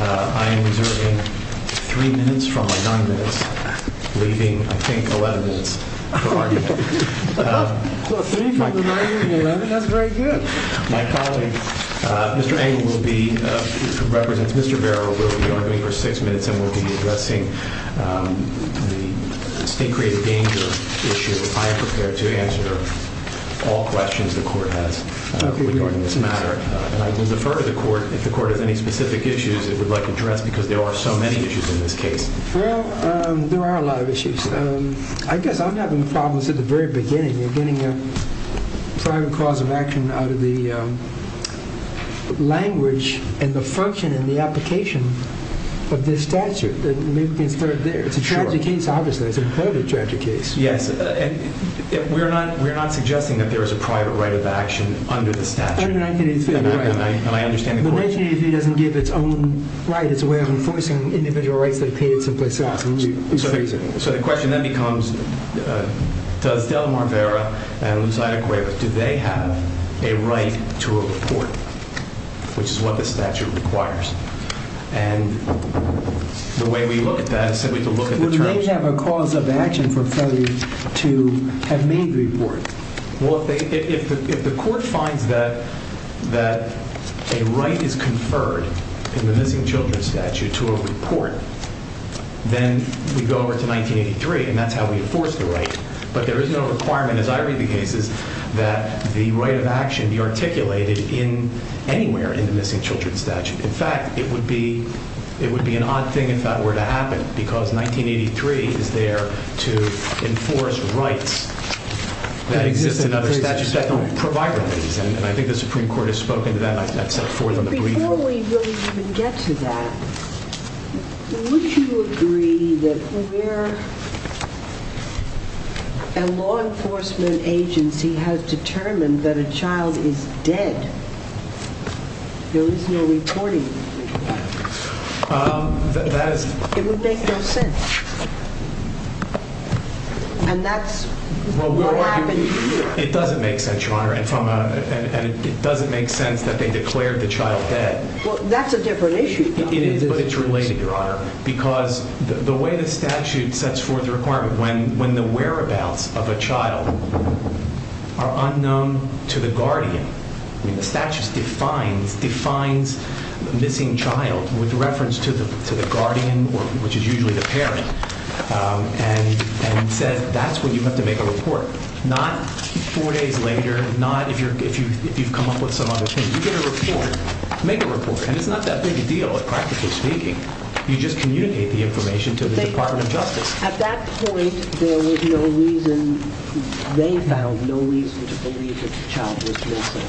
I am reserving 3 minutes from my 9 minutes, leaving, I think, 11 minutes for argument. So 3 from the 9 and 11, that's very good. My colleague, Mr. Angle, who represents Mr. Barrow, will be arguing for 6 minutes and will be addressing the state created danger issue. I am prepared to answer all questions the court has regarding this matter. And I will defer to the court if the court has any specific issues it would like addressed because there are so many issues in this case. Well, there are a lot of issues. I guess I'm having problems at the very beginning. You're getting a private cause of action out of the language and the function and the application of this statute. Maybe we can start there. It's a tragic case, obviously. It's a terribly tragic case. Yes. We're not suggesting that there is a private right of action under the statute. Under 1983, right. And I understand the question. Well, 1983 doesn't give its own right. It's a way of enforcing individual rights that are paid someplace else. So the question then becomes, does Delamar Vera and Lucida Cuevas, do they have a right to a report, which is what the statute requires? And the way we look at that is simply to look at the terms. Would they have a cause of action for felony to have made the report? Well, if the court finds that a right is conferred in the missing children statute to a report, then we go over to 1983 and that's how we enforce the right. But there is no requirement, as I read the cases, that the right of action be articulated anywhere in the missing children statute. In fact, it would be an odd thing if that were to happen, because 1983 is there to enforce rights that exist in other statutes that don't provide them. And I think the Supreme Court has spoken to that. Before we even get to that, would you agree that where a law enforcement agency has determined that a child is dead, there is no reporting? It would make no sense. And that's what happened here. It doesn't make sense, Your Honor, and it doesn't make sense that they declared the child dead. Well, that's a different issue. It is, but it's related, Your Honor, because the way the statute sets forth the requirement, when the whereabouts of a child are unknown to the guardian, the statute defines missing child with reference to the guardian, which is usually the parent, and says that's when you have to make a report, not four days later, not if you've come up with some other thing. You get a report, make a report, and it's not that big a deal, practically speaking. You just communicate the information to the Department of Justice. At that point, there was no reason, they found no reason to believe that the child was missing.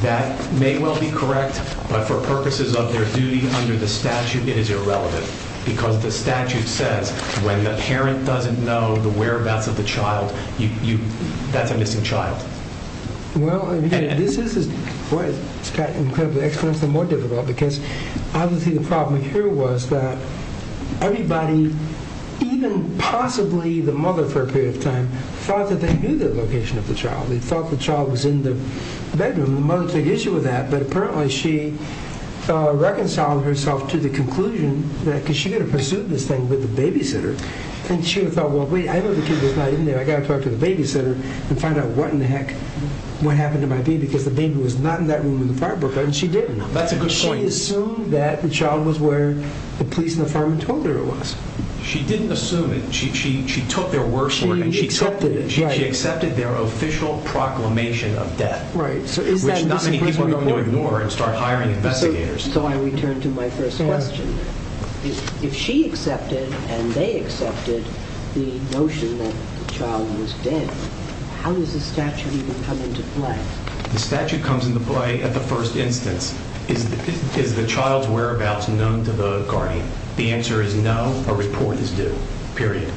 That may well be correct, but for purposes of their duty under the statute, it is irrelevant, because the statute says when the parent doesn't know the whereabouts of the child, that's a missing child. Well, this is, boy, it's got to be incredibly expensive and more difficult, because obviously the problem here was that everybody, even possibly the mother for a period of time, thought that they knew the location of the child. They thought the child was in the bedroom. The mother took issue with that, but apparently she reconciled herself to the conclusion that, because she had to pursue this thing with the babysitter, and she thought, well, wait, I know the kid was not in there. I've got to talk to the babysitter and find out what in the heck, what happened to my baby, because the baby was not in that room in the firebrook, and she didn't. That's a good point. She assumed that the child was where the police and the firemen told her it was. She didn't assume it. She took their word for it. She accepted it. She accepted their official proclamation of death, which not many people are going to ignore and start hiring investigators. So I return to my first question. If she accepted and they accepted the notion that the child was dead, how does the statute even come into play? The statute comes into play at the first instance. Is the child's whereabouts known to the guardian? The answer is no. A report is due, period.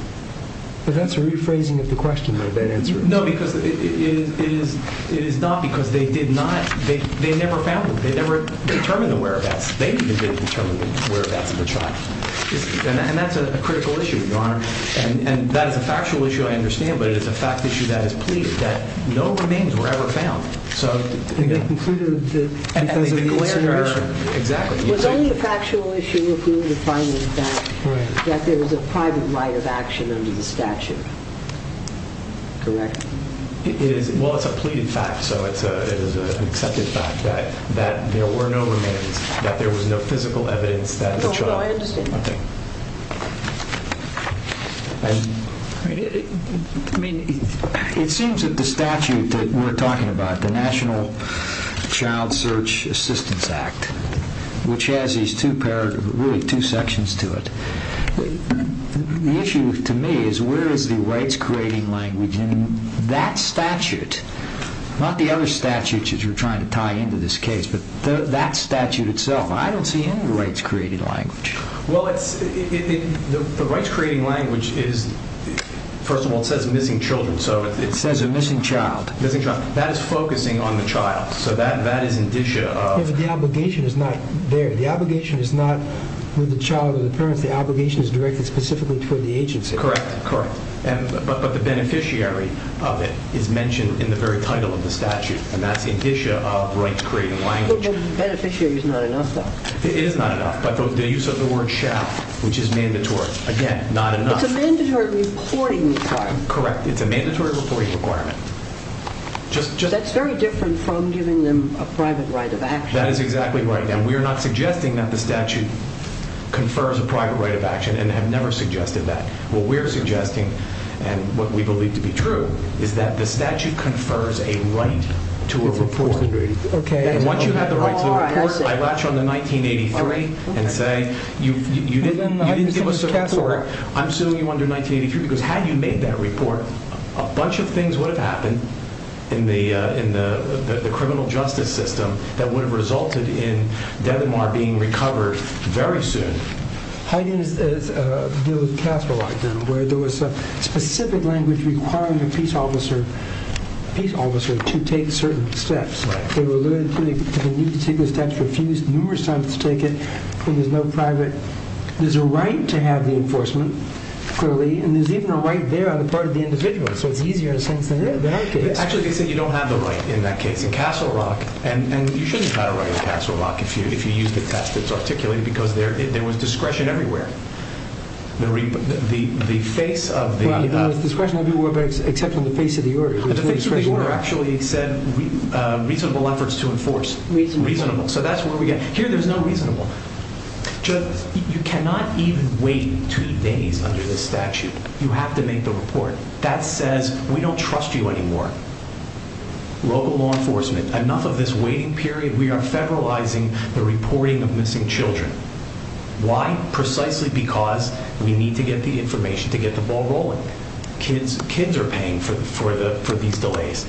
But that's a rephrasing of the question, though, that answer. No, because it is not because they did not, they never found them. They never determined the whereabouts. They didn't determine the whereabouts of the child. And that's a critical issue, Your Honor. And that is a factual issue, I understand, but it is a fact issue that is pleaded that no remains were ever found. And they concluded that it was an incident. Exactly. It was only a factual issue if we were to find the fact that there was a private right of action under the statute, correct? Well, it's a pleaded fact, so it is an accepted fact that there were no remains, that there was no physical evidence that the child. No, I understand. It seems that the statute that we're talking about, the National Child Search Assistance Act, which has these two sections to it, the issue to me is where is the rights-creating language in that statute, not the other statutes that you're trying to tie into this case, but that statute itself. I don't see any rights-creating language. Well, the rights-creating language is, first of all, it says missing children. It says a missing child. That is focusing on the child, so that is indicia of. Yeah, but the obligation is not there. The obligation is not with the child or the parents. The obligation is directed specifically toward the agency. Correct, correct. But the beneficiary of it is mentioned in the very title of the statute, and that's indicia of rights-creating language. But the beneficiary is not enough, though. It is not enough, but the use of the word shall, which is mandatory. Again, not enough. It's a mandatory reporting requirement. Correct, it's a mandatory reporting requirement. That's very different from giving them a private right of action. That is exactly right, and we are not suggesting that the statute confers a private right of action, and have never suggested that. What we're suggesting, and what we believe to be true, is that the statute confers a right to a report. Okay. And once you have the right to a report, I latch on the 1983 and say, you didn't give us a report. I'm suing you under 1983 because had you made that report, a bunch of things would have happened in the criminal justice system that would have resulted in Denmark being recovered very soon. Haydn is dealing with Castle Rock now, where there was a specific language requiring a peace officer to take certain steps. They were limited to the need to take those steps, refused numerous times to take it, and there's no private. There's a right to have the enforcement, clearly, and there's even a right there on the part of the individual, so it's easier in a sense than in that case. Actually, they say you don't have the right in that case. In Castle Rock, and you shouldn't have a right in Castle Rock if you use the test that's articulated because there was discretion everywhere. The face of the— Well, there was discretion everywhere except on the face of the order. The face of the order actually said reasonable efforts to enforce. Reasonable. Reasonable. So that's what we get. Here there's no reasonable. You cannot even wait two days under this statute. You have to make the report. That says we don't trust you anymore. Local law enforcement, enough of this waiting period. We are federalizing the reporting of missing children. Why? Precisely because we need to get the information to get the ball rolling. Kids are paying for these delays.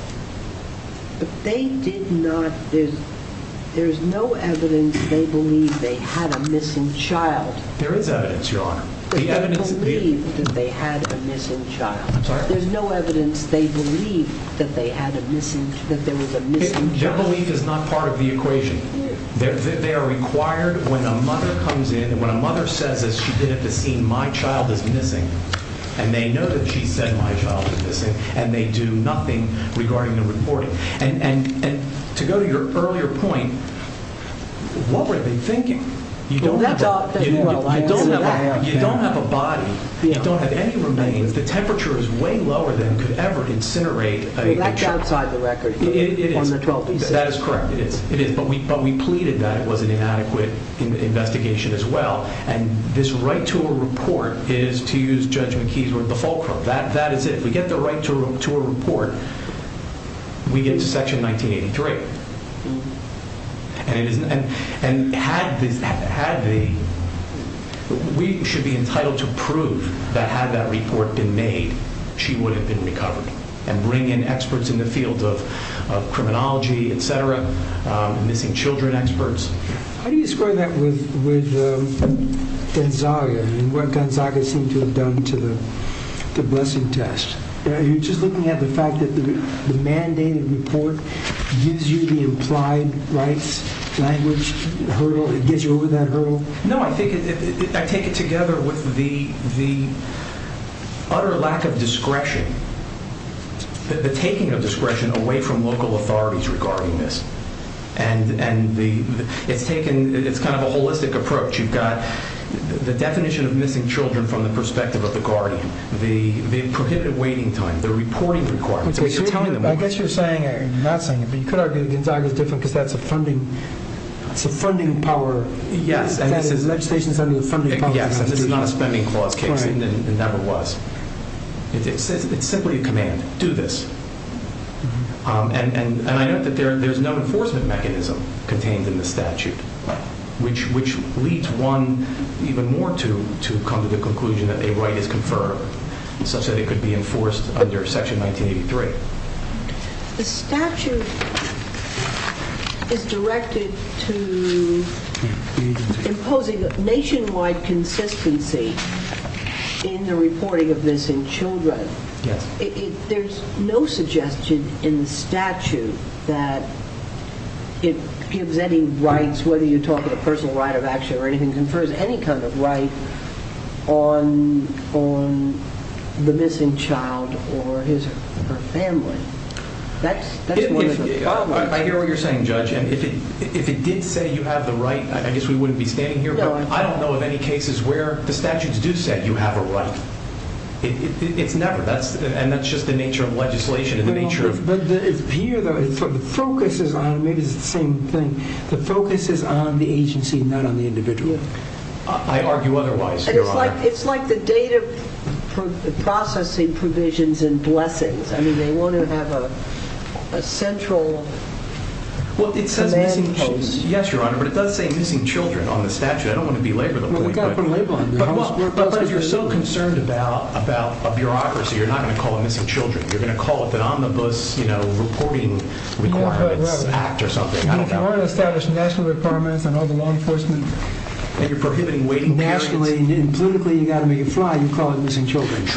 But they did not—there's no evidence they believe they had a missing child. There is evidence, Your Honor. But they believe that they had a missing child. I'm sorry? There's no evidence they believe that there was a missing child. Their belief is not part of the equation. They are required when a mother comes in and when a mother says, as she did at the scene, my child is missing, and they know that she said my child is missing, and they do nothing regarding the reporting. And to go to your earlier point, what were they thinking? You don't have a body. You don't have any remains. The temperature is way lower than could ever incinerate a child. It is. That is correct. It is. But we pleaded that it was an inadequate investigation as well. And this right to a report is, to use Judge McKee's word, the fulcrum. That is it. If we get the right to a report, we get to Section 1983. And we should be entitled to prove that had that report been made, she would have been recovered and bring in experts in the field of criminology, et cetera, missing children experts. How do you describe that with Gonzaga and what Gonzaga seemed to have done to the blessing test? Are you just looking at the fact that the mandated report gives you the implied rights language hurdle? It gets you over that hurdle? No, I take it together with the utter lack of discretion the taking of discretion away from local authorities regarding this. And it's kind of a holistic approach. You've got the definition of missing children from the perspective of the guardian, the prohibited waiting time, the reporting requirements. I guess you're saying, you're not saying it, but you could argue that Gonzaga is different because that's a funding power. Yes, and this is not a spending clause case, it never was. It's simply a command, do this. And I note that there's no enforcement mechanism contained in the statute, which leads one even more to come to the conclusion that a right is conferred such that it could be enforced under Section 1983. The statute is directed to imposing nationwide consistency in the reporting of missing children. There's no suggestion in the statute that it gives any rights, whether you talk of a personal right of action or anything, confers any kind of right on the missing child or his or her family. I hear what you're saying, Judge, and if it did say you have the right, I guess we wouldn't be standing here. I don't know of any cases where the statutes do say you have a right. It's never, and that's just the nature of legislation. But here, the focus is on, maybe it's the same thing, the focus is on the agency, not on the individual. I argue otherwise, Your Honor. It's like the data processing provisions in blessings. I mean, they want to have a central command post. Well, it says missing children. Yes, Your Honor, but it does say missing children on the statute. I don't want to belabor the point. Well, we've got to put a label on it. But if you're so concerned about a bureaucracy, you're not going to call it missing children. You're going to call it the Omnibus Reporting Requirements Act or something. If you want to establish national requirements on all the law enforcement and you're prohibiting waiting periods, nationally and politically you've got to make it fly, you call it missing children. And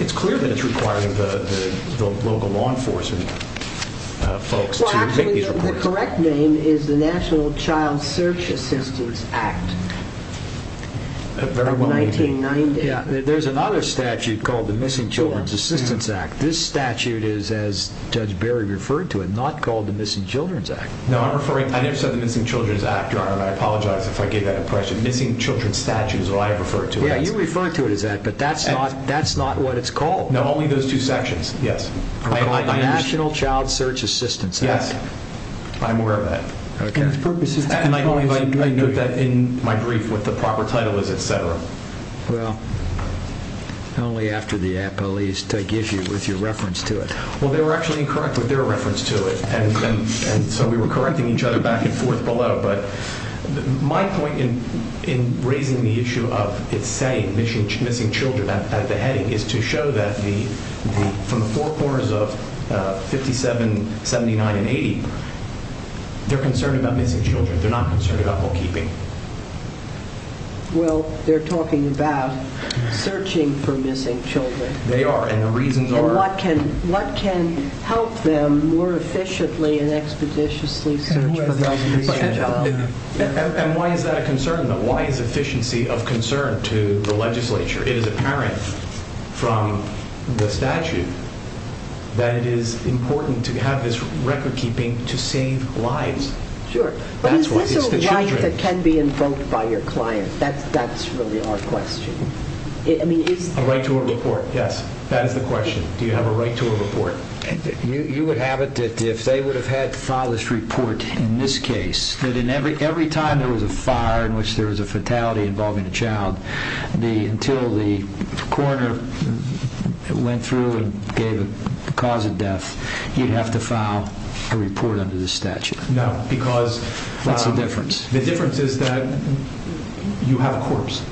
it's clear that it's requiring the local law enforcement folks to make these reports. Well, actually, the correct name is the National Child Search Assistance Act of 1990. There's another statute called the Missing Children's Assistance Act. This statute is, as Judge Berry referred to it, not called the Missing Children's Act. No, I never said the Missing Children's Act, Your Honor, and I apologize if I gave that impression. The Missing Children's Statute is what I referred to it as. Yeah, you referred to it as that, but that's not what it's called. No, only those two sections, yes. The National Child Search Assistance Act. Yes, I'm aware of that. Okay. And I note that in my brief what the proper title is, et cetera. Well, not only after the police take issue with your reference to it. Well, they were actually incorrect with their reference to it, and so we were correcting each other back and forth below. My point in raising the issue of it saying missing children at the heading is to show that from the four corners of 57, 79, and 80, they're concerned about missing children. They're not concerned about home keeping. Well, they're talking about searching for missing children. They are, and the reasons are? What can help them more efficiently and expeditiously search for those missing children? And why is that a concern, though? Why is efficiency of concern to the legislature? It is apparent from the statute that it is important to have this record keeping to save lives. Sure, but is this a right that can be invoked by your client? That's really our question. A right to a report, yes. That is the question. Do you have a right to a report? You would have it that if they would have had to file this report in this case, that every time there was a fire in which there was a fatality involving a child, until the coroner went through and gave a cause of death, you'd have to file a report under this statute. No, because the difference is that you have a corpse.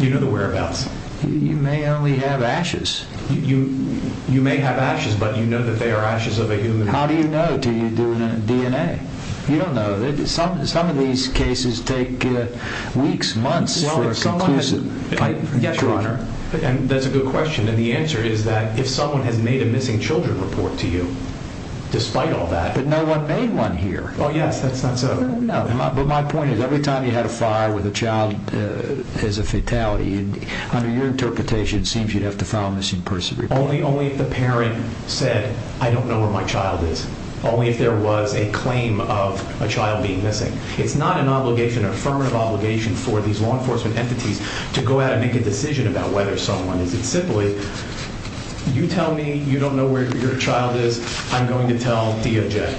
You know the whereabouts. You may only have ashes. You may have ashes, but you know that they are ashes of a human being. How do you know until you do a DNA? You don't know. Some of these cases take weeks, months for a conclusive type of coroner. That's a good question, and the answer is that if someone has made a missing children report to you, despite all that. Oh, yes, that's not so. No, but my point is every time you had a fire with a child as a fatality, under your interpretation it seems you'd have to file a missing person report. Only if the parent said, I don't know where my child is. Only if there was a claim of a child being missing. It's not an obligation or affirmative obligation for these law enforcement entities to go out and make a decision about whether someone is. It's simply, you tell me you don't know where your child is. I'm going to tell DOJ.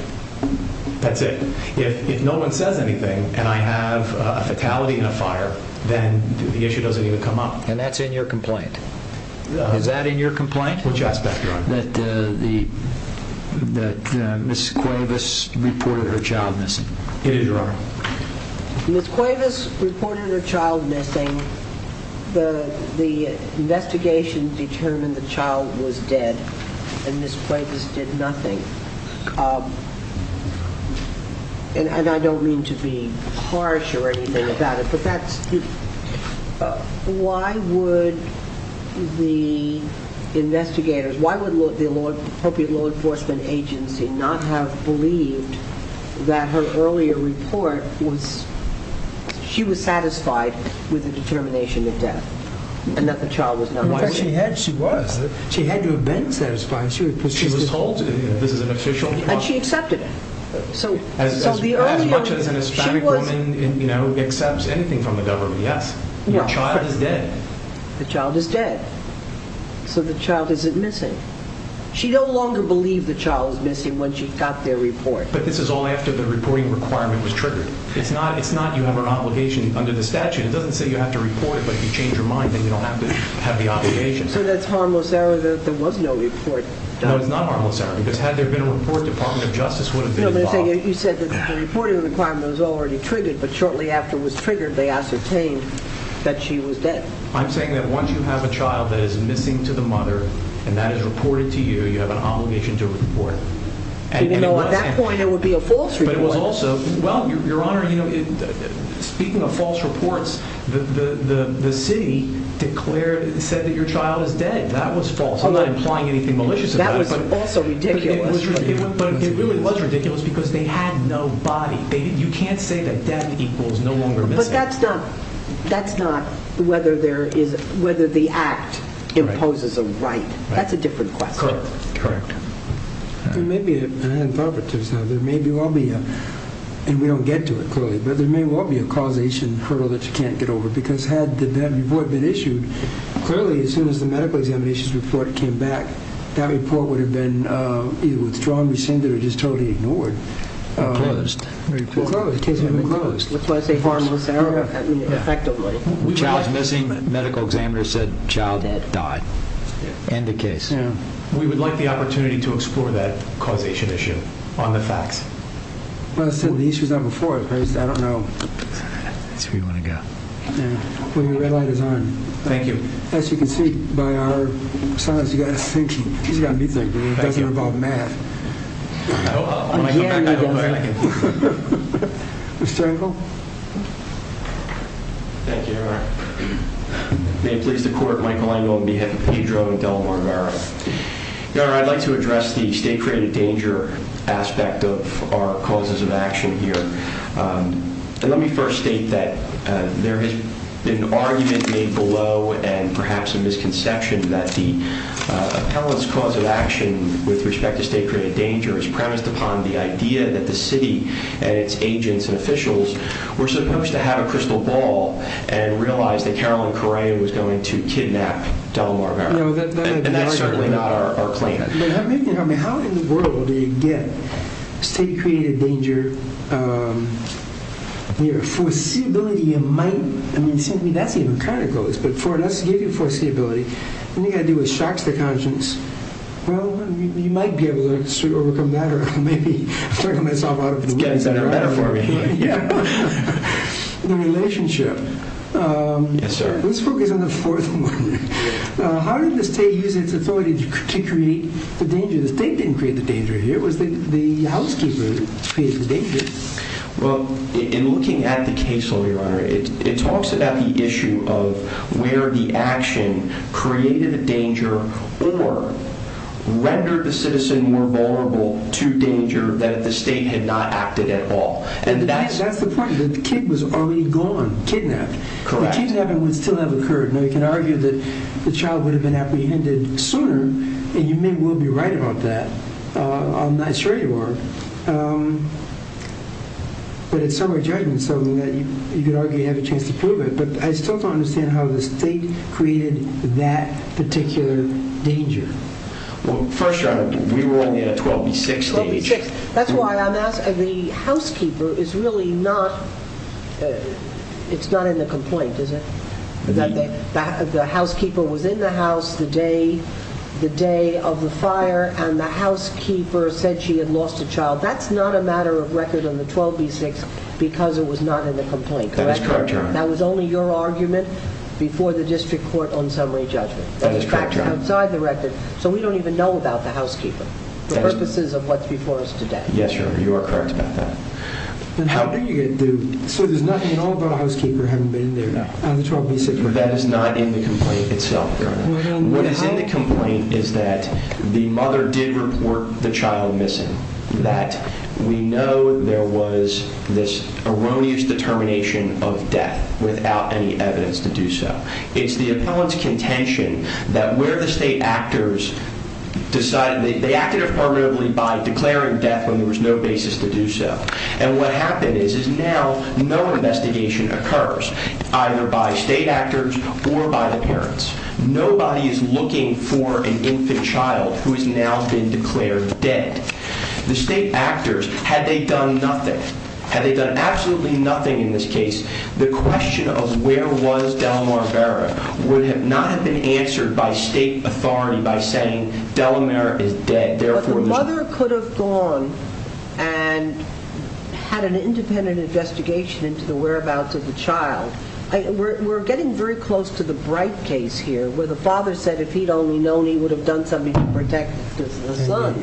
That's it. If no one says anything and I have a fatality in a fire, then the issue doesn't even come up. And that's in your complaint. Is that in your complaint? Which aspect, Your Honor? That Ms. Cuevas reported her child missing. It is, Your Honor. Ms. Cuevas reported her child missing. The investigation determined the child was dead, and Ms. Cuevas did nothing. And I don't mean to be harsh or anything about it, but why would the investigators, why would the appropriate law enforcement agency not have believed that her earlier report was, she was satisfied with the determination of death and that the child was not missing? She was. She had to have been satisfied. She was told this is an official. And she accepted it. As much as an Hispanic woman accepts anything from the government, yes. Your child is dead. The child is dead. So the child isn't missing. She no longer believed the child was missing when she got their report. But this is all after the reporting requirement was triggered. It's not you have an obligation under the statute. It doesn't say you have to report it, but if you change your mind, then you don't have to have the obligation. So that's harmless error that there was no report. No, it's not harmless error, because had there been a report, Department of Justice would have been involved. You said that the reporting requirement was already triggered, but shortly after it was triggered, they ascertained that she was dead. I'm saying that once you have a child that is missing to the mother and that is reported to you, you have an obligation to report it. Even though at that point it would be a false report. But it was also, well, Your Honor, speaking of false reports, the city declared, said that your child is dead. That was false. I'm not implying anything malicious about it. That was also ridiculous. But it really was ridiculous because they had no body. You can't say that death equals no longer missing. But that's not whether the act imposes a right. That's a different question. Correct. There may be, and I haven't thought about this now, there may well be a, and we don't get to it clearly, but there may well be a causation hurdle that you can't get over, because had that report been issued, clearly as soon as the medical examinations report came back, that report would have been either withdrawn, rescinded, or just totally ignored. Closed. Closed. That's why I say harmless error effectively. The child is missing. The medical examiner said the child died. End of case. We would like the opportunity to explore that causation issue on the facts. Well, as I said, the issue is not before us. I don't know. That's where you want to go. Well, your red light is on. Thank you. As you can see by our silence, he's got to think. He's got to be thinking. It doesn't involve math. I hope. I'll come back. I can think. Mr. Engel? Thank you, Your Honor. May it please the Court, Michael Engel on behalf of Pedro and Delmar Merrill. Your Honor, I'd like to address the state-created danger aspect of our causes of action here. Let me first state that there has been argument made below and perhaps a misconception that the appellant's cause of action with respect to state-created danger is premised upon the idea that the city and its agents and officials were supposed to have a crystal ball and realize that Carolyn Correa was going to kidnap Delmar Merrill. And that's certainly not our claim. But how in the world do you get state-created danger? Your foreseeability might—I mean, it seems to me that's even kind of close, but for us to give you foreseeability, what are you going to do? It shocks the conscience. Well, you might be able to overcome that or maybe turn yourself out of the way, et cetera. It's getting better for me. The relationship. Yes, sir. Let's focus on the fourth one. How did the state use its authority to create the danger? The state didn't create the danger here. It was the housekeeper who created the danger. Well, in looking at the case lawyer, it talks about the issue of where the action created the danger or rendered the citizen more vulnerable to danger that the state had not acted at all. That's the point. The kid was already gone, kidnapped. Correct. The change that happened would still have occurred. Now, you can argue that the child would have been apprehended sooner, and you may well be right about that. I'm not sure you are. But it's somewhat judgmental in that you could argue you have a chance to prove it. But I still don't understand how the state created that particular danger. Well, first, Your Honor, we were only at a 12B6. That's why I'm asking. The housekeeper is really not in the complaint, is it? The housekeeper was in the house the day of the fire, and the housekeeper said she had lost a child. That's not a matter of record on the 12B6 because it was not in the complaint, correct? That is correct, Your Honor. That was only your argument before the district court on summary judgment. That is correct, Your Honor. So we don't even know about the housekeeper for purposes of what's before us today. Yes, Your Honor. You are correct about that. So there's nothing at all about a housekeeper having been there on the 12B6? That is not in the complaint itself, Your Honor. What is in the complaint is that the mother did report the child missing, that we know there was this erroneous determination of death without any evidence to do so. It's the appellant's contention that where the state actors decided, they acted affirmatively by declaring death when there was no basis to do so. And what happened is, is now no investigation occurs either by state actors or by the parents. Nobody is looking for an infant child who has now been declared dead. The state actors, had they done nothing, had they done absolutely nothing in this case, the question of where was Delamare Vera would not have been answered by state authority by saying Delamare is dead. But the mother could have gone and had an independent investigation into the whereabouts of the child. We're getting very close to the Bright case here, where the father said if he'd only known he would have done something to protect the son.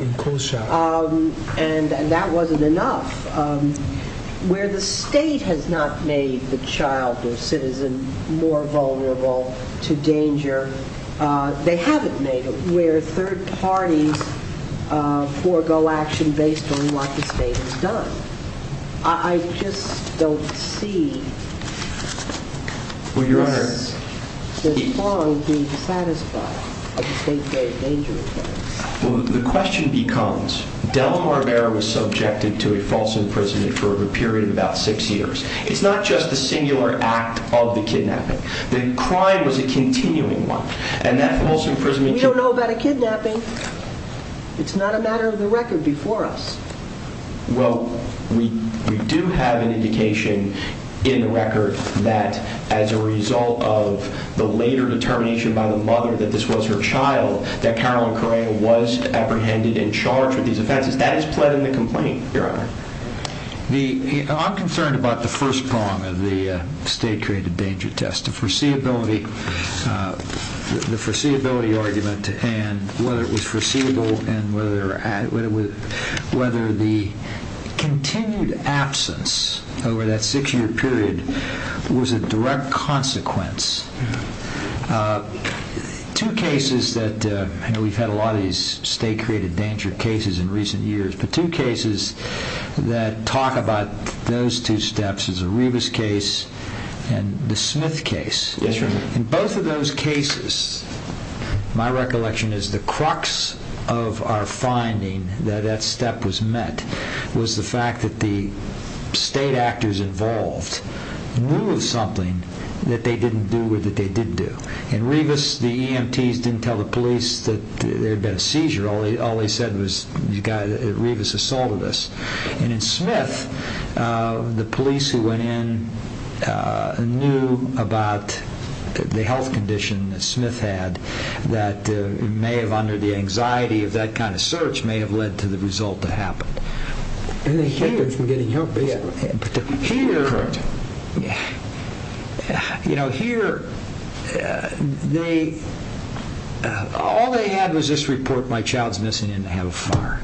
And that wasn't enough. Where the state has not made the child or citizen more vulnerable to danger, they haven't made it. Where third parties forego action based on what the state has done. I just don't see this bond being satisfied. The question becomes, Delamare Vera was subjected to a false imprisonment for a period of about six years. It's not just the singular act of the kidnapping. The crime was a continuing one. And that false imprisonment... We don't know about a kidnapping. It's not a matter of the record before us. Well, we do have an indication in the record that as a result of the later determination by the mother that this was her child, that Carolyn Correa was apprehended and charged with these offenses. That is pled in the complaint, Your Honor. I'm concerned about the first prong of the state-created danger test. The foreseeability argument and whether it was foreseeable and whether the continued absence over that six-year period was a direct consequence Two cases that... I know we've had a lot of these state-created danger cases in recent years, but two cases that talk about those two steps is the Rebus case and the Smith case. Yes, Your Honor. In both of those cases, my recollection is the crux of our finding that that step was met was the fact that the state actors involved knew of something that they didn't do or that they did do. In Rebus, the EMTs didn't tell the police that there had been a seizure. All they said was, Rebus assaulted us. And in Smith, the police who went in knew about the health condition that Smith had that may have, under the anxiety of that kind of search, may have led to the result that happened. All they had was this report, my child's missing and they have a fire.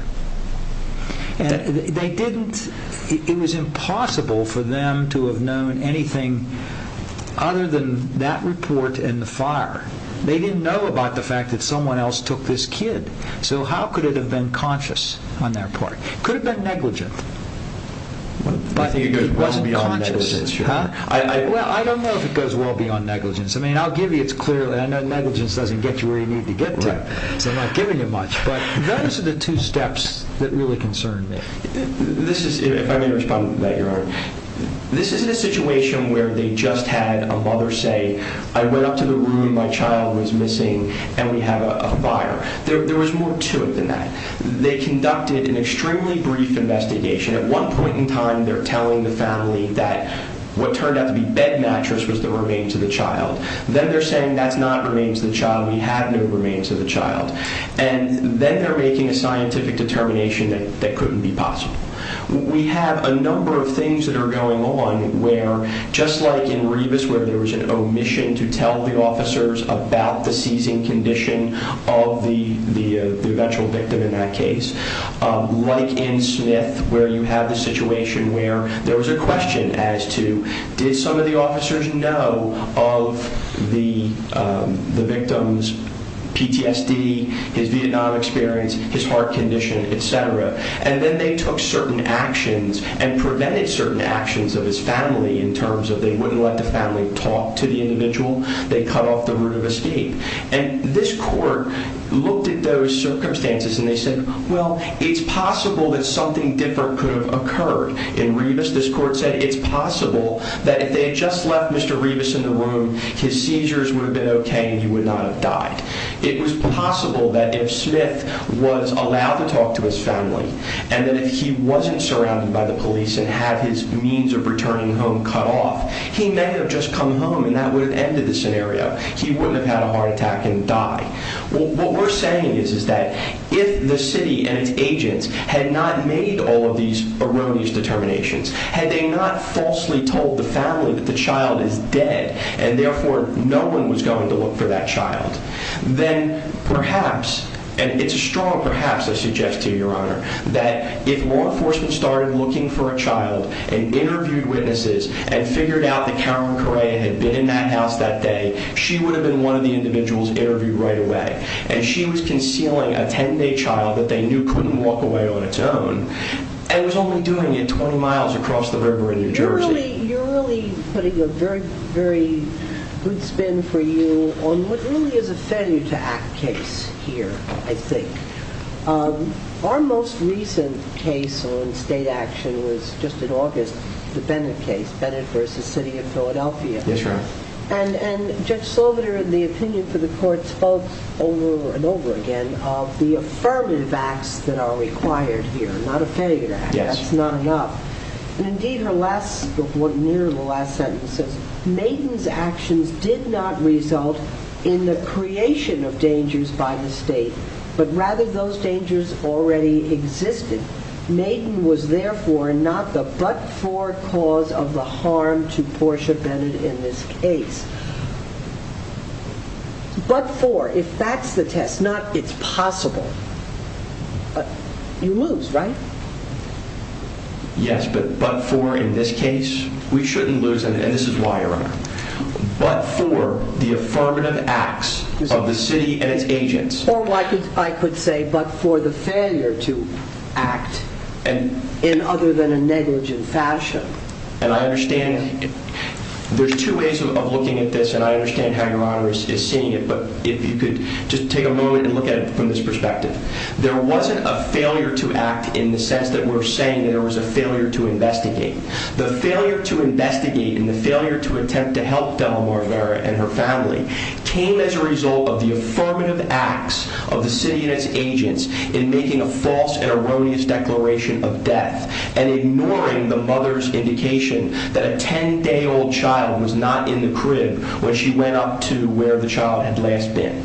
It was impossible for them to have known anything other than that report and the fire. They didn't know about the fact that someone else took this kid. So how could it have been conscious on their part? It could have been negligent, but it wasn't conscious. I don't know if it goes well beyond negligence. I mean, I'll give you it clearly. I know negligence doesn't get you where you need to get to, so I'm not giving you much. But those are the two steps that really concern me. If I may respond to that, Your Honor. This isn't a situation where they just had a mother say, I went up to the room, my child was missing, and we have a fire. There was more to it than that. They conducted an extremely brief investigation. At one point in time, they're telling the family that what turned out to be bed mattress was the remains of the child. Then they're saying that's not remains of the child. We have no remains of the child. And then they're making a scientific determination that couldn't be possible. We have a number of things that are going on where, just like in Rebus, where there was an omission to tell the officers about the seizing condition of the eventual victim in that case, like in Smith, where you have the situation where there was a question as to, did some of the officers know of the victim's PTSD, his Vietnam experience, his heart condition, et cetera? And then they took certain actions and prevented certain actions of his family in terms of they wouldn't let the family talk to the individual. They cut off the route of escape. And this court looked at those circumstances and they said, well, it's possible that something different could have occurred. In Rebus, this court said it's possible that if they had just left Mr. Rebus in the room, his seizures would have been okay and he would not have died. It was possible that if Smith was allowed to talk to his family and that if he wasn't surrounded by the police and had his means of returning home cut off, he may have just come home and that would have ended the scenario. He wouldn't have had a heart attack and died. What we're saying is that if the city and its agents had not made all of these erroneous determinations, had they not falsely told the family that the child is dead and therefore no one was going to look for that child, then perhaps, and it's a strong perhaps I suggest to you, Your Honor, that if law enforcement started looking for a child and interviewed witnesses and figured out that Karen Correa had been in that house that day, she would have been one of the individuals interviewed right away. And she was concealing a 10-day child that they knew couldn't walk away on its own and was only doing it 20 miles across the river in New Jersey. You're really putting a very, very good spin for you on what really is a failure to act case here, I think. Our most recent case on state action was just in August, the Bennett case, Bennett v. City of Philadelphia. Yes, Your Honor. And Judge Sloviter, in the opinion for the court, spoke over and over again of the affirmative acts that are required here, not a failure to act. That's not enough. Indeed, her last, near the last sentence says, Maiden's actions did not result in the creation of dangers by the state, but rather those dangers already existed. Maiden was therefore not the but-for cause of the harm to Portia Bennett in this case. But-for, if that's the test, not it's possible, you lose, right? Yes, but-for in this case, we shouldn't lose, and this is why, Your Honor. But-for the affirmative acts of the city and its agents. Or I could say, but-for the failure to act in other than a negligent fashion. And I understand, there's two ways of looking at this, and I understand how Your Honor is seeing it, but if you could just take a moment and look at it from this perspective. There wasn't a failure to act in the sense that we're saying there was a failure to investigate. The failure to investigate and the failure to attempt to help Della Marvera and her family came as a result of the affirmative acts of the city and its agents in making a false and erroneous declaration of death and ignoring the mother's indication that a 10-day-old child was not in the crib when she went up to where the child had last been.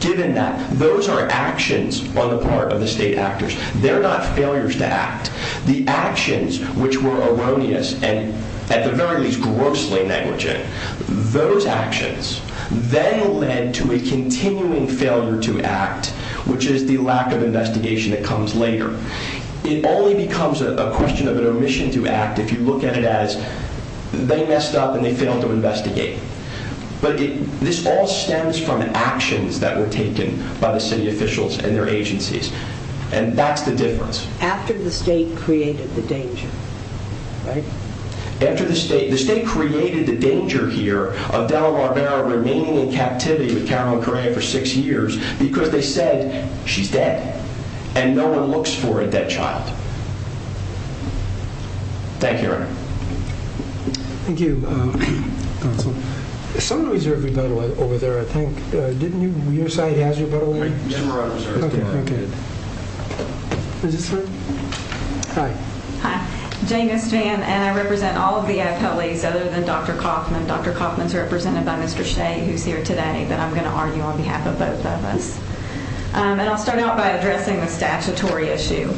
Given that, those are actions on the part of the state actors. They're not failures to act. The actions, which were erroneous and, at the very least, grossly negligent, those actions then led to a continuing failure to act, which is the lack of investigation that comes later. It only becomes a question of an omission to act if you look at it as they messed up and they failed to investigate. But this all stems from actions that were taken by the city officials and their agencies, and that's the difference. After the state created the danger, right? After the state. The state created the danger here of Della Marvera remaining in captivity with Carolyn Correa for six years because they said she's dead Thank you, Your Honor. Thank you, Counsel. Someone reserved a rebuttal over there, I think. Didn't you? Your side has a rebuttal there? Ms. Marone reserved a rebuttal. Okay, okay. Is this her? Hi. Hi. Jane Gosvan, and I represent all of the appellees other than Dr. Kaufman. Dr. Kaufman's represented by Mr. Shea, who's here today, but I'm going to argue on behalf of both of us. And I'll start out by addressing the statutory issue.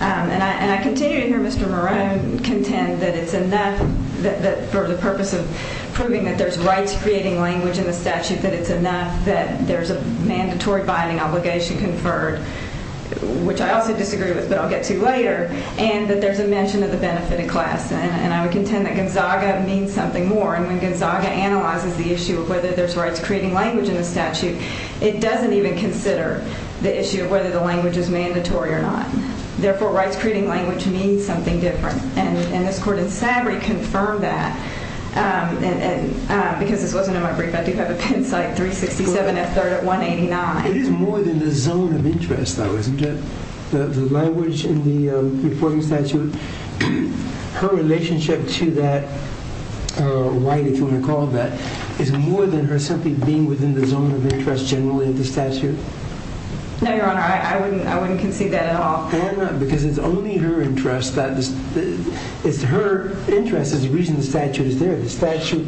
And I continue to hear Mr. Marone contend that it's enough for the purpose of proving that there's rights-creating language in the statute, that it's enough that there's a mandatory binding obligation conferred, which I also disagree with, but I'll get to later, and that there's a mention of the benefit in class. And I would contend that Gonzaga means something more. And when Gonzaga analyzes the issue of whether there's rights-creating language in the statute, it doesn't even consider the issue of whether the language is mandatory or not. Therefore, rights-creating language means something different. And this Court in Savory confirmed that, because this wasn't in my brief. I do have a pen cite, 367 F. 3rd at 189. It is more than the zone of interest, though, isn't it? The language in the reporting statute, her relationship to that right, if you want to call it that, is more than her simply being within the zone of interest generally of the statute? No, Your Honor, I wouldn't concede that at all. Why not? Because it's only her interest that this— it's her interest is the reason the statute is there. The statute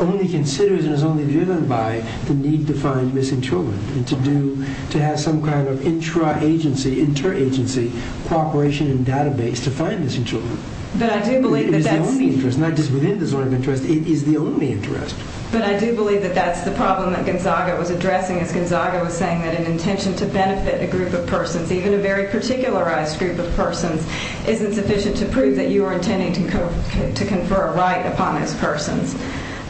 only considers and is only driven by the need to find missing children and to have some kind of intra-agency, inter-agency cooperation and database to find missing children. But I do believe that that's— not just within the zone of interest, it is the only interest. But I do believe that that's the problem that Gonzaga was addressing, as Gonzaga was saying that an intention to benefit a group of persons, even a very particularized group of persons, isn't sufficient to prove that you are intending to confer a right upon those persons.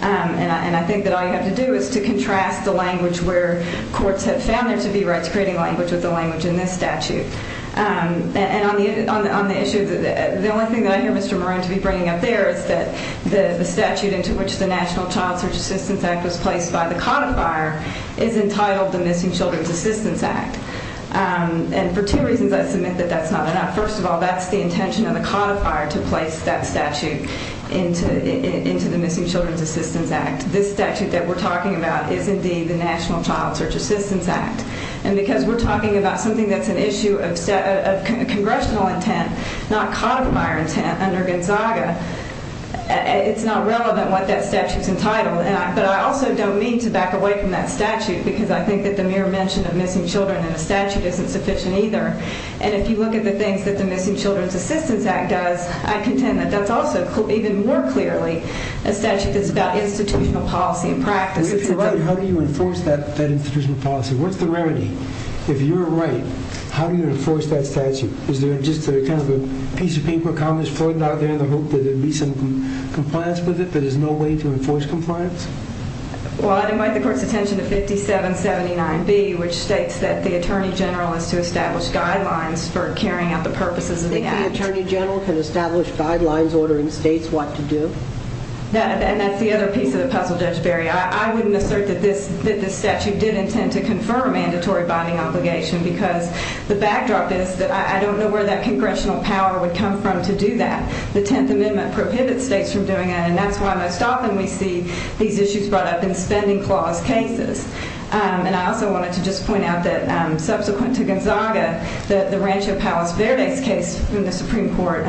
And I think that all you have to do is to contrast the language where courts have found there to be rights-creating language with the language in this statute. And on the issue—the only thing that I hear Mr. Marone to be bringing up there is that the statute into which the National Child Search Assistance Act was placed by the codifier is entitled the Missing Children's Assistance Act. And for two reasons I submit that that's not enough. First of all, that's the intention of the codifier to place that statute into the Missing Children's Assistance Act. This statute that we're talking about is indeed the National Child Search Assistance Act. And because we're talking about something that's an issue of congressional intent, not codifier intent under Gonzaga, it's not relevant what that statute's entitled. But I also don't mean to back away from that statute because I think that the mere mention of missing children in a statute isn't sufficient either. And if you look at the things that the Missing Children's Assistance Act does, I contend that that's also even more clearly a statute that's about institutional policy and practice. If you're right, how do you enforce that institutional policy? What's the remedy? If you're right, how do you enforce that statute? Is there just kind of a piece of paper, a columnist floating out there in the hope that there'd be some compliance with it, but there's no way to enforce compliance? Well, I'd invite the Court's attention to 5779B, which states that the Attorney General is to establish guidelines for carrying out the purposes of the Act. Do you think the Attorney General can establish guidelines ordering states what to do? And that's the other piece of the puzzle, Judge Berry. I wouldn't assert that this statute did intend to confirm a mandatory binding obligation because the backdrop is that I don't know where that congressional power would come from to do that. The Tenth Amendment prohibits states from doing that, and that's why most often we see these issues brought up in spending clause cases. And I also wanted to just point out that subsequent to Gonzaga, the Rancho Palos Verdes case from the Supreme Court,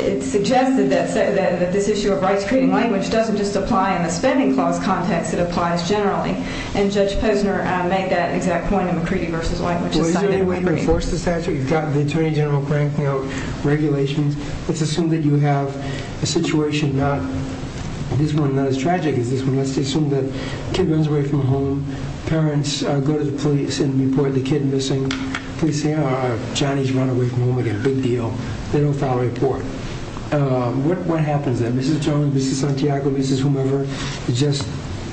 it suggested that this issue of rights created in language doesn't just apply in the spending clause context, it applies generally. And Judge Posner made that exact point in McCready v. White, which is cited in McCready. Well, is there any way to enforce the statute? You've got the Attorney General cranking out regulations. Let's assume that you have a situation not as tragic as this one. Let's assume that a kid runs away from home. Parents go to the police and report the kid missing. Johnny's run away from home again, big deal. They don't file a report. What happens then? Mrs. Jones, Mrs. Santiago, Mrs. whomever just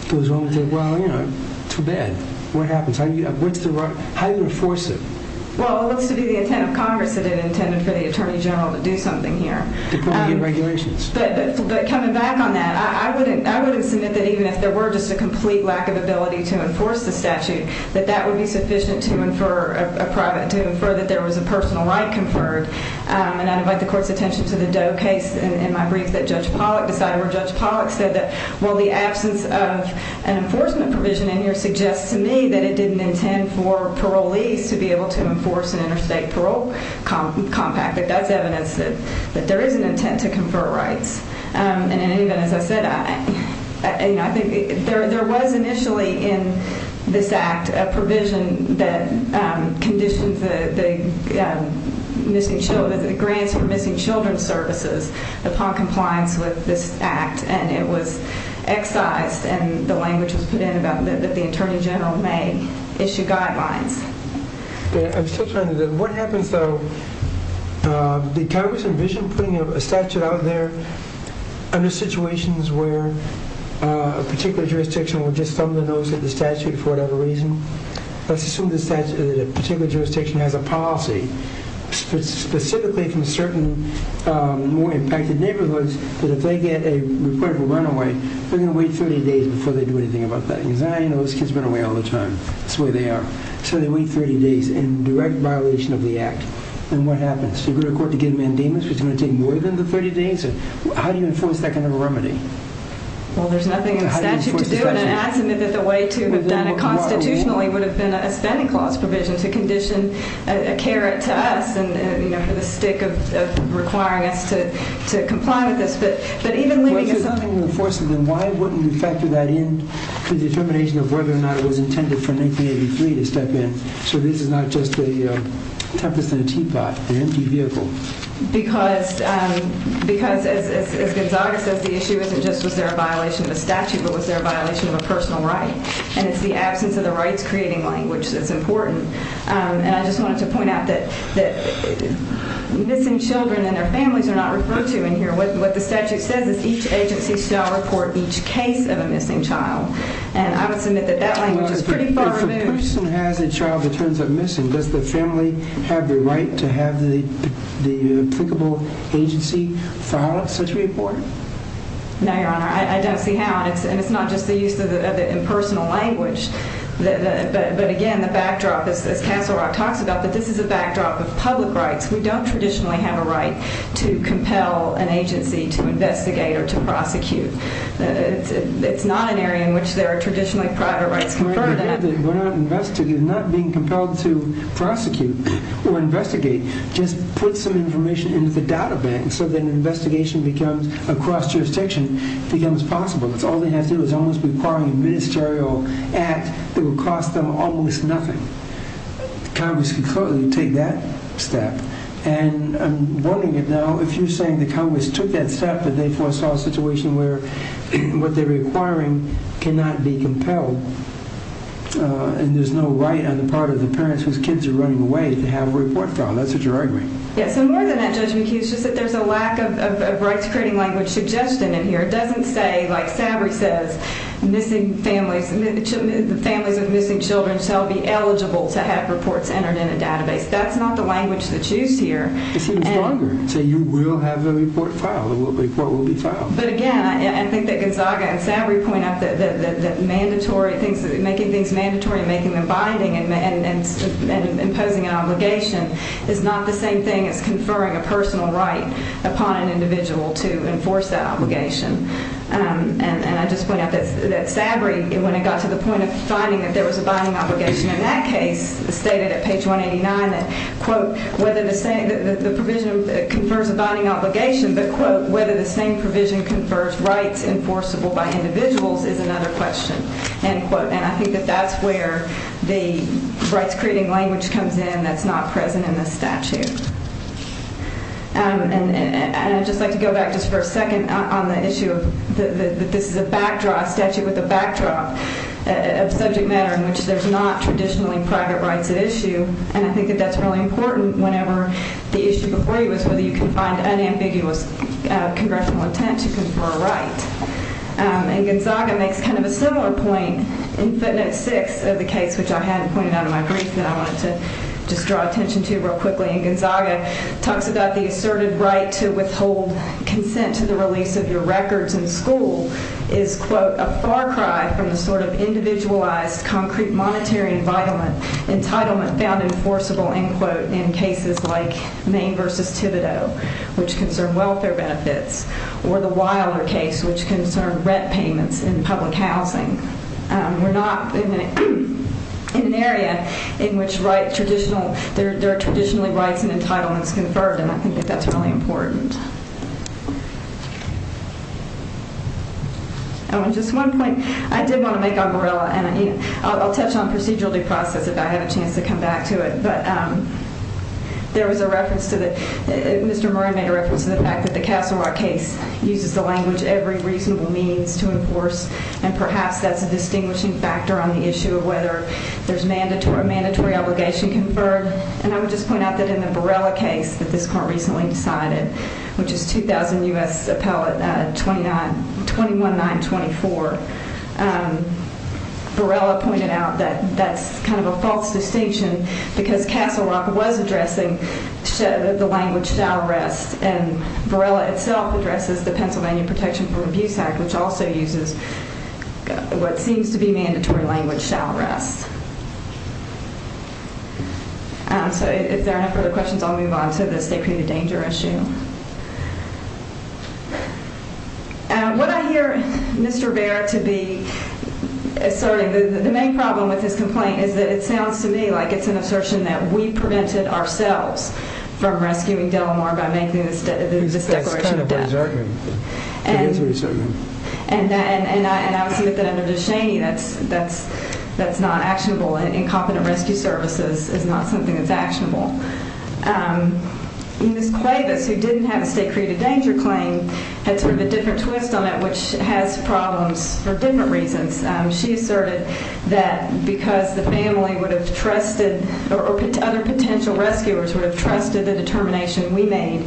goes home and says, well, you know, too bad. What happens? How do you enforce it? Well, it looks to be the intent of Congress that it intended for the Attorney General to do something here. To probably get regulations. But coming back on that, I wouldn't submit that even if there were just a complete lack of ability to enforce the statute, that that would be sufficient to infer a private, to infer that there was a personal right conferred. And I'd invite the court's attention to the Doe case. In my briefs that Judge Pollack decided, where Judge Pollack said that, well, the absence of an enforcement provision in here suggests to me that it didn't intend for parolees to be able to enforce an interstate parole compact. But that's evidence that there is an intent to confer rights. And as I said, I think there was initially in this act a provision that conditions the grants for missing children's services upon compliance with this act. And it was excised and the language was put in about that the Attorney General may issue guidelines. I'm still trying to think. What happens, though, did Congress envision putting a statute out there under situations where a particular jurisdiction will just thumb the nose at the statute for whatever reason? Let's assume that a particular jurisdiction has a policy, specifically from certain more impacted neighborhoods, that if they get a report of a runaway, they're going to wait 30 days before they do anything about that. Because I know those kids run away all the time. That's the way they are. So they wait 30 days in direct violation of the act. And what happens? Do they go to court to get a mandamus, which is going to take more than the 30 days? How do you enforce that kind of a remedy? Well, there's nothing in the statute to do. And it adds to me that the way to have done it constitutionally would have been a spending clause provision to condition a carrot to us for the stick of requiring us to comply with this. But even leaving us... Well, if there's nothing to enforce, then why wouldn't you factor that in to the determination of whether or not it was intended for 1983 to step in? So this is not just a tempest in a teapot, an empty vehicle. Because, as Gonzaga says, the issue isn't just was there a violation of a statute, but was there a violation of a personal right? And it's the absence of the rights-creating language that's important. And I just wanted to point out that missing children and their families are not referred to in here. What the statute says is each agency shall report each case of a missing child. And I would submit that that language is pretty far removed. If a person has a child that turns up missing, does the family have the right to have the applicable agency file such a report? No, Your Honor. I don't see how. And it's not just the use of the impersonal language. But, again, the backdrop, as Castle Rock talks about, that this is a backdrop of public rights. We don't traditionally have a right to compel an agency to investigate or to prosecute. It's not an area in which there are traditionally private rights conferred. We're not being compelled to prosecute or investigate. Just put some information into the data bank so that an investigation becomes, across jurisdiction, becomes possible. Because all they have to do is almost require a ministerial act that will cost them almost nothing. Congress can clearly take that step. And I'm warning you now, if you're saying that Congress took that step and they foresaw a situation where what they're requiring cannot be compelled, and there's no right on the part of the parents whose kids are running away to have a report filed, that's what you're arguing. Yes, and more than that, Judge McHugh, it's just that there's a lack of rights-creating language suggestion in here. It doesn't say, like Savory says, families of missing children shall be eligible to have reports entered in a database. That's not the language that's used here. It's even stronger. So you will have the report filed. The report will be filed. But again, I think that Gonzaga and Savory point out that making things mandatory and making them binding and imposing an obligation is not the same thing as conferring a personal right upon an individual to enforce that obligation. And I just point out that Savory, when it got to the point of finding that there was a binding obligation in that case, stated at page 189 that, quote, the provision confers a binding obligation, but, quote, whether the same provision confers rights enforceable by individuals is another question, end quote. And I think that that's where the rights-creating language comes in that's not present in this statute. And I'd just like to go back just for a second on the issue that this is a backdrop statute with a backdrop of subject matter in which there's not traditionally private rights at issue. And I think that that's really important whenever the issue before you was whether you can find unambiguous congressional intent to confer a right. And Gonzaga makes kind of a similar point in footnote 6 of the case, which I hadn't pointed out in my brief, that I wanted to just draw attention to real quickly. And Gonzaga talks about the asserted right to withhold consent to the release of your records in school is, quote, a far cry from the sort of individualized concrete monetary entitlement found enforceable, end quote, in cases like Maine v. Thibodeau, which concerned welfare benefits, or the Wilder case, which concerned rent payments in public housing. We're not in an area in which there are traditionally rights and entitlements conferred, and I think that that's really important. And just one point. I did want to make on Borrella, and I'll touch on procedural due process if I have a chance to come back to it. But there was a reference to the Mr. Moran made a reference to the fact that the Castle Rock case uses the language every reasonable means to enforce, and perhaps that's a distinguishing factor on the issue of whether there's a mandatory obligation conferred. And I would just point out that in the Borrella case that this court recently decided, which is 2000 U.S. Appellate 21924, Borrella pointed out that that's kind of a false distinction because Castle Rock was addressing the language shall rest, and Borrella itself addresses the Pennsylvania Protection from Abuse Act, which also uses what seems to be mandatory language, shall rest. So if there are no further questions, I'll move on to the state punitive danger issue. What I hear Mr. Baird to be asserting, the main problem with his complaint, is that it sounds to me like it's an assertion that we prevented ourselves from rescuing Delamore by making this declaration of debt. That's kind of what he's arguing. And I would say at the end of the day, that's not actionable. Incompetent rescue services is not something that's actionable. Ms. Clavis, who didn't have a state creative danger claim, had sort of a different twist on it, which has problems for different reasons. She asserted that because the family would have trusted, or other potential rescuers would have trusted the determination we made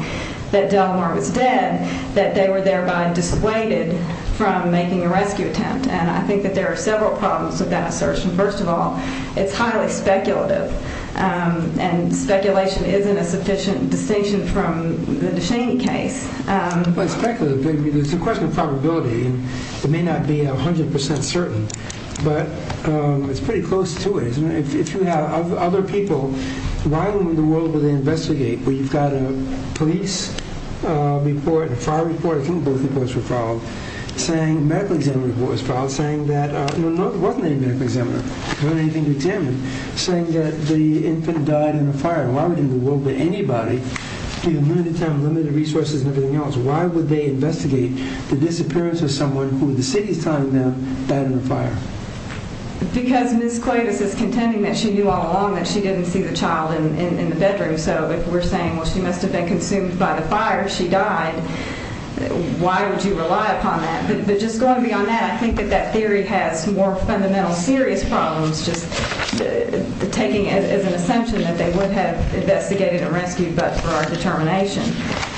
that Delamore was dead, that they were thereby dissuaded from making a rescue attempt. And I think that there are several problems with that assertion. First of all, it's highly speculative, and speculation isn't a sufficient distinction from the DeShaney case. Well, it's speculative because it's a question of probability. It may not be 100% certain, but it's pretty close to it. If you have other people, why in the world would they investigate where you've got a police report, a fire report, I think both reports were filed, a medical examiner report was filed saying that, no, there wasn't any medical examiner, there wasn't anything to examine, saying that the infant died in a fire. Why would anybody, limited time, limited resources and everything else, why would they investigate the disappearance of someone who the city is telling them died in a fire? Because Ms. Clavis is contending that she knew all along that she didn't see the child in the bedroom. So if we're saying, well, she must have been consumed by the fire, she died, why would you rely upon that? But just going beyond that, I think that that theory has more fundamental serious problems, just taking it as an assumption that they would have investigated and rescued, but for our determination.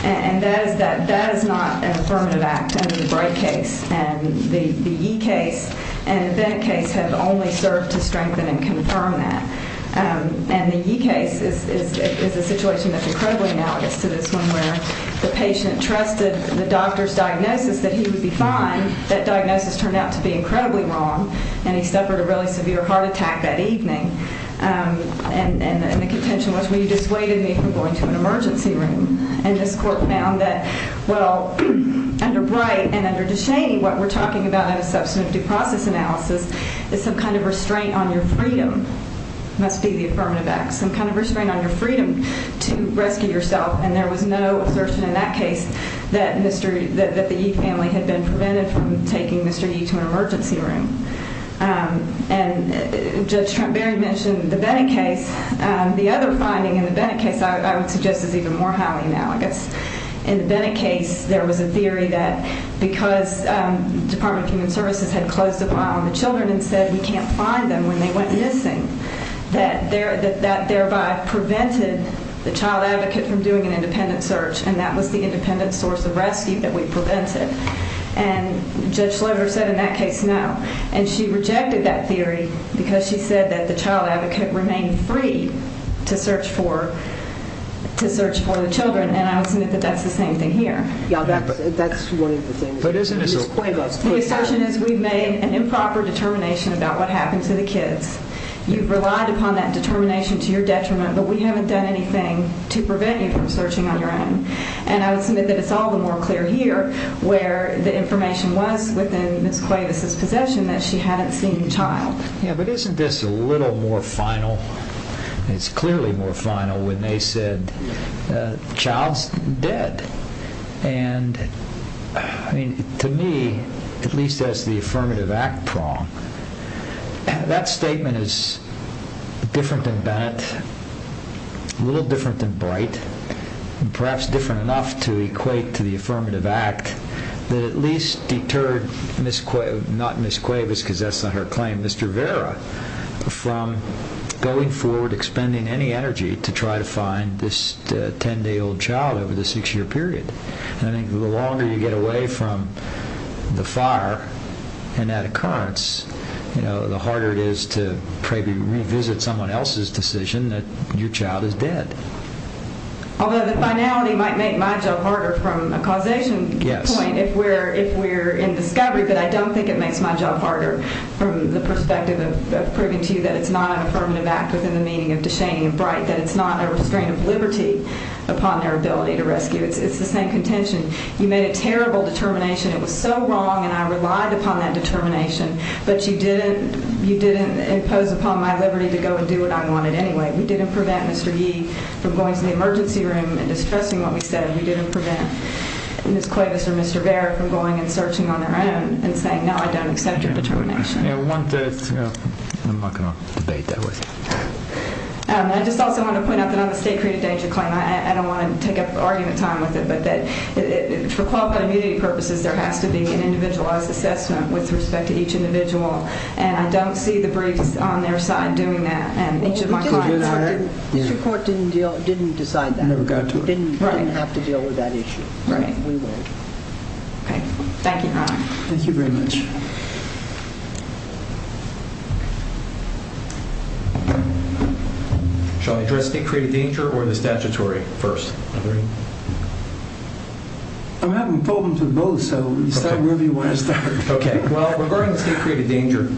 And that is not an affirmative act under the Bright case. And the Yee case and the Bennett case have only served to strengthen and confirm that. And the Yee case is a situation that's incredibly analogous to this one where the patient trusted the doctor's diagnosis that he would be fine. That diagnosis turned out to be incredibly wrong, and he suffered a really severe heart attack that evening. And the contention was, well, you dissuaded me from going to an emergency room. And this court found that, well, under Bright and under DeShaney, what we're talking about in a substantive due process analysis is some kind of restraint on your freedom must be the affirmative act, some kind of restraint on your freedom to rescue yourself. And there was no assertion in that case that the Yee family had been prevented from taking Mr. Yee to an emergency room. And Judge Trump barely mentioned the Bennett case. The other finding in the Bennett case I would suggest is even more highly analogous. In the Bennett case, there was a theory that because Department of Human Services had closed a file on the children and said we can't find them when they went missing, that thereby prevented the child advocate from doing an independent search, and that was the independent source of rescue that we prevented. And Judge Slover said in that case no. And she rejected that theory because she said that the child advocate remained free to search for the children, and I would submit that that's the same thing here. Yeah, that's one of the things. The assertion is we've made an improper determination about what happened to the kids. You've relied upon that determination to your detriment, but we haven't done anything to prevent you from searching on your own. And I would submit that it's all the more clear here where the information was within Ms. Cuevas' possession that she hadn't seen the child. Yeah, but isn't this a little more final? It's clearly more final when they said the child's dead. And to me, at least as the affirmative act prong, that statement is different than Bennett, a little different than Bright, and perhaps different enough to equate to the affirmative act that at least deterred Ms. Cuevas, because that's not her claim, Mr. Vera, from going forward, expending any energy to try to find this 10-day-old child over the six-year period. And I think the longer you get away from the fire and that occurrence, the harder it is to revisit someone else's decision that your child is dead. Although the finality might make my job harder from a causation point, if we're in discovery, but I don't think it makes my job harder from the perspective of proving to you that it's not an affirmative act within the meaning of Dushane and Bright, that it's not a restraint of liberty upon their ability to rescue. It's the same contention. You made a terrible determination. It was so wrong, and I relied upon that determination, but you didn't impose upon my liberty to go and do what I wanted anyway. We didn't prevent Mr. Yee from going to the emergency room and distressing what we said. We didn't prevent Ms. Cuevas or Mr. Vera from going and searching on their own and saying, no, I don't accept your determination. I'm not going to debate that with you. I just also want to point out that on the state-created danger claim, I don't want to take up argument time with it, but that for quality and immunity purposes, there has to be an individualized assessment with respect to each individual, and I don't see the briefs on their side doing that, and each of my clients. Mr. Court didn't decide that. Never got to it. Didn't have to deal with that issue. Right. Okay. Thank you. Thank you very much. Shall I address state-created danger or the statutory first? I'm having problems with both, so you start wherever you want to start. Okay. Well, regarding the state-created danger,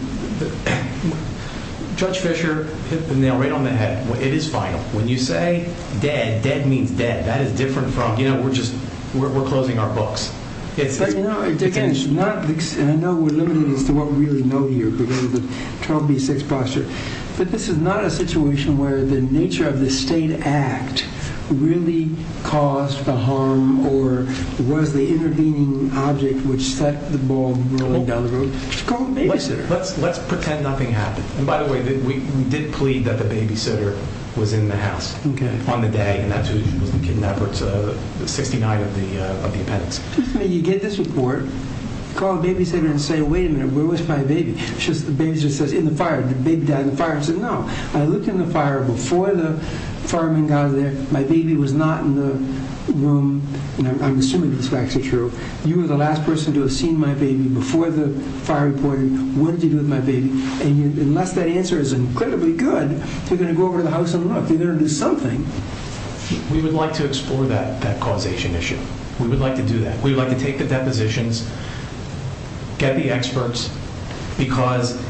Judge Fischer hit the nail right on the head. It is final. When you say dead, dead means dead. That is different from, you know, we're closing our books. But, you know, Dickens, and I know we're limited as to what we really know here regarding the 12B6 posture, but this is not a situation where the nature of the state act really caused the harm or was the intervening object which set the ball rolling down the road. It's called babysitter. Let's pretend nothing happened. And, by the way, we did plead that the babysitter was in the house on the day, and that's who was the kidnapper. It's 69 of the appendix. You get this report, call the babysitter and say, wait a minute, where was my baby? The babysitter says, in the fire. The baby died in the fire. She said, no, I looked in the fire before the fireman got there. My baby was not in the room. And I'm assuming this is actually true. You were the last person to have seen my baby before the fire reported. What did you do with my baby? And unless that answer is incredibly good, they're going to go over to the house and look. They're going to do something. We would like to explore that causation issue. We would like to do that. We would like to take the depositions, get the experts, because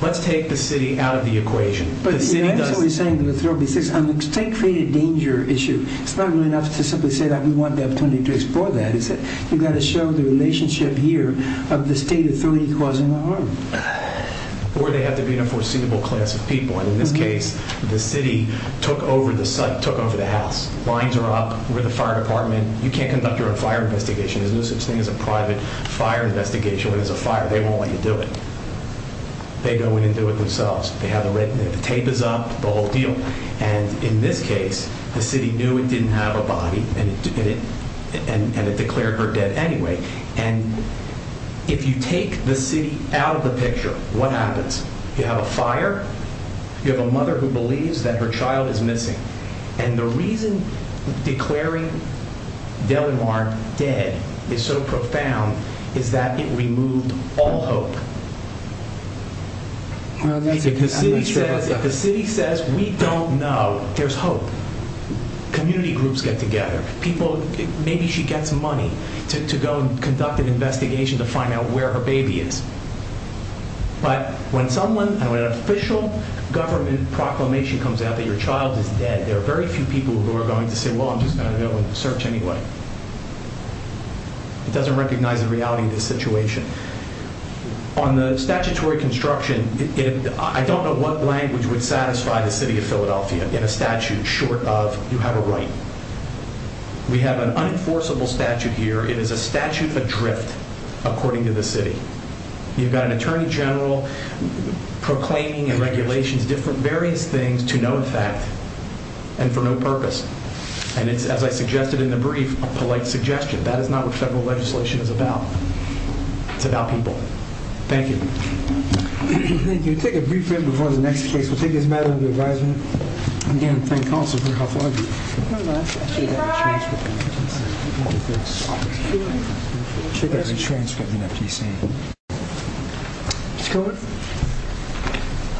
let's take the city out of the equation. But you're actually saying that the 336 is a state-created danger issue. It's not enough to simply say that we want the opportunity to explore that. You've got to show the relationship here of the state authority causing the harm. Or they have to be in a foreseeable class of people. And in this case, the city took over the site, took over the house. Lines are up. We're the fire department. You can't conduct your own fire investigation. There's no such thing as a private fire investigation when there's a fire. They won't let you do it. They go in and do it themselves. The tape is up, the whole deal. And in this case, the city knew it didn't have a body, and it declared her dead anyway. And if you take the city out of the picture, what happens? You have a fire. You have a mother who believes that her child is missing. And the reason declaring Delamar dead is so profound is that it removed all hope. If the city says, we don't know, there's hope. Community groups get together. Maybe she gets money to go and conduct an investigation to find out where her baby is. But when someone, when an official government proclamation comes out that your child is dead, there are very few people who are going to say, well, I'm just going to go and search anyway. It doesn't recognize the reality of the situation. On the statutory construction, I don't know what language would satisfy the city of Philadelphia in a statute short of you have a right. We have an unenforceable statute here. It is a statute adrift according to the city. You've got an attorney general proclaiming and regulations, various things to no effect and for no purpose. And it's, as I suggested in the brief, a polite suggestion. That is not what federal legislation is about. It's about people. Thank you. Thank you. We'll take a brief break before the next case. We'll take this matter under advisement. Again, thank counsel for her helpful argument. Thank you. Thank you.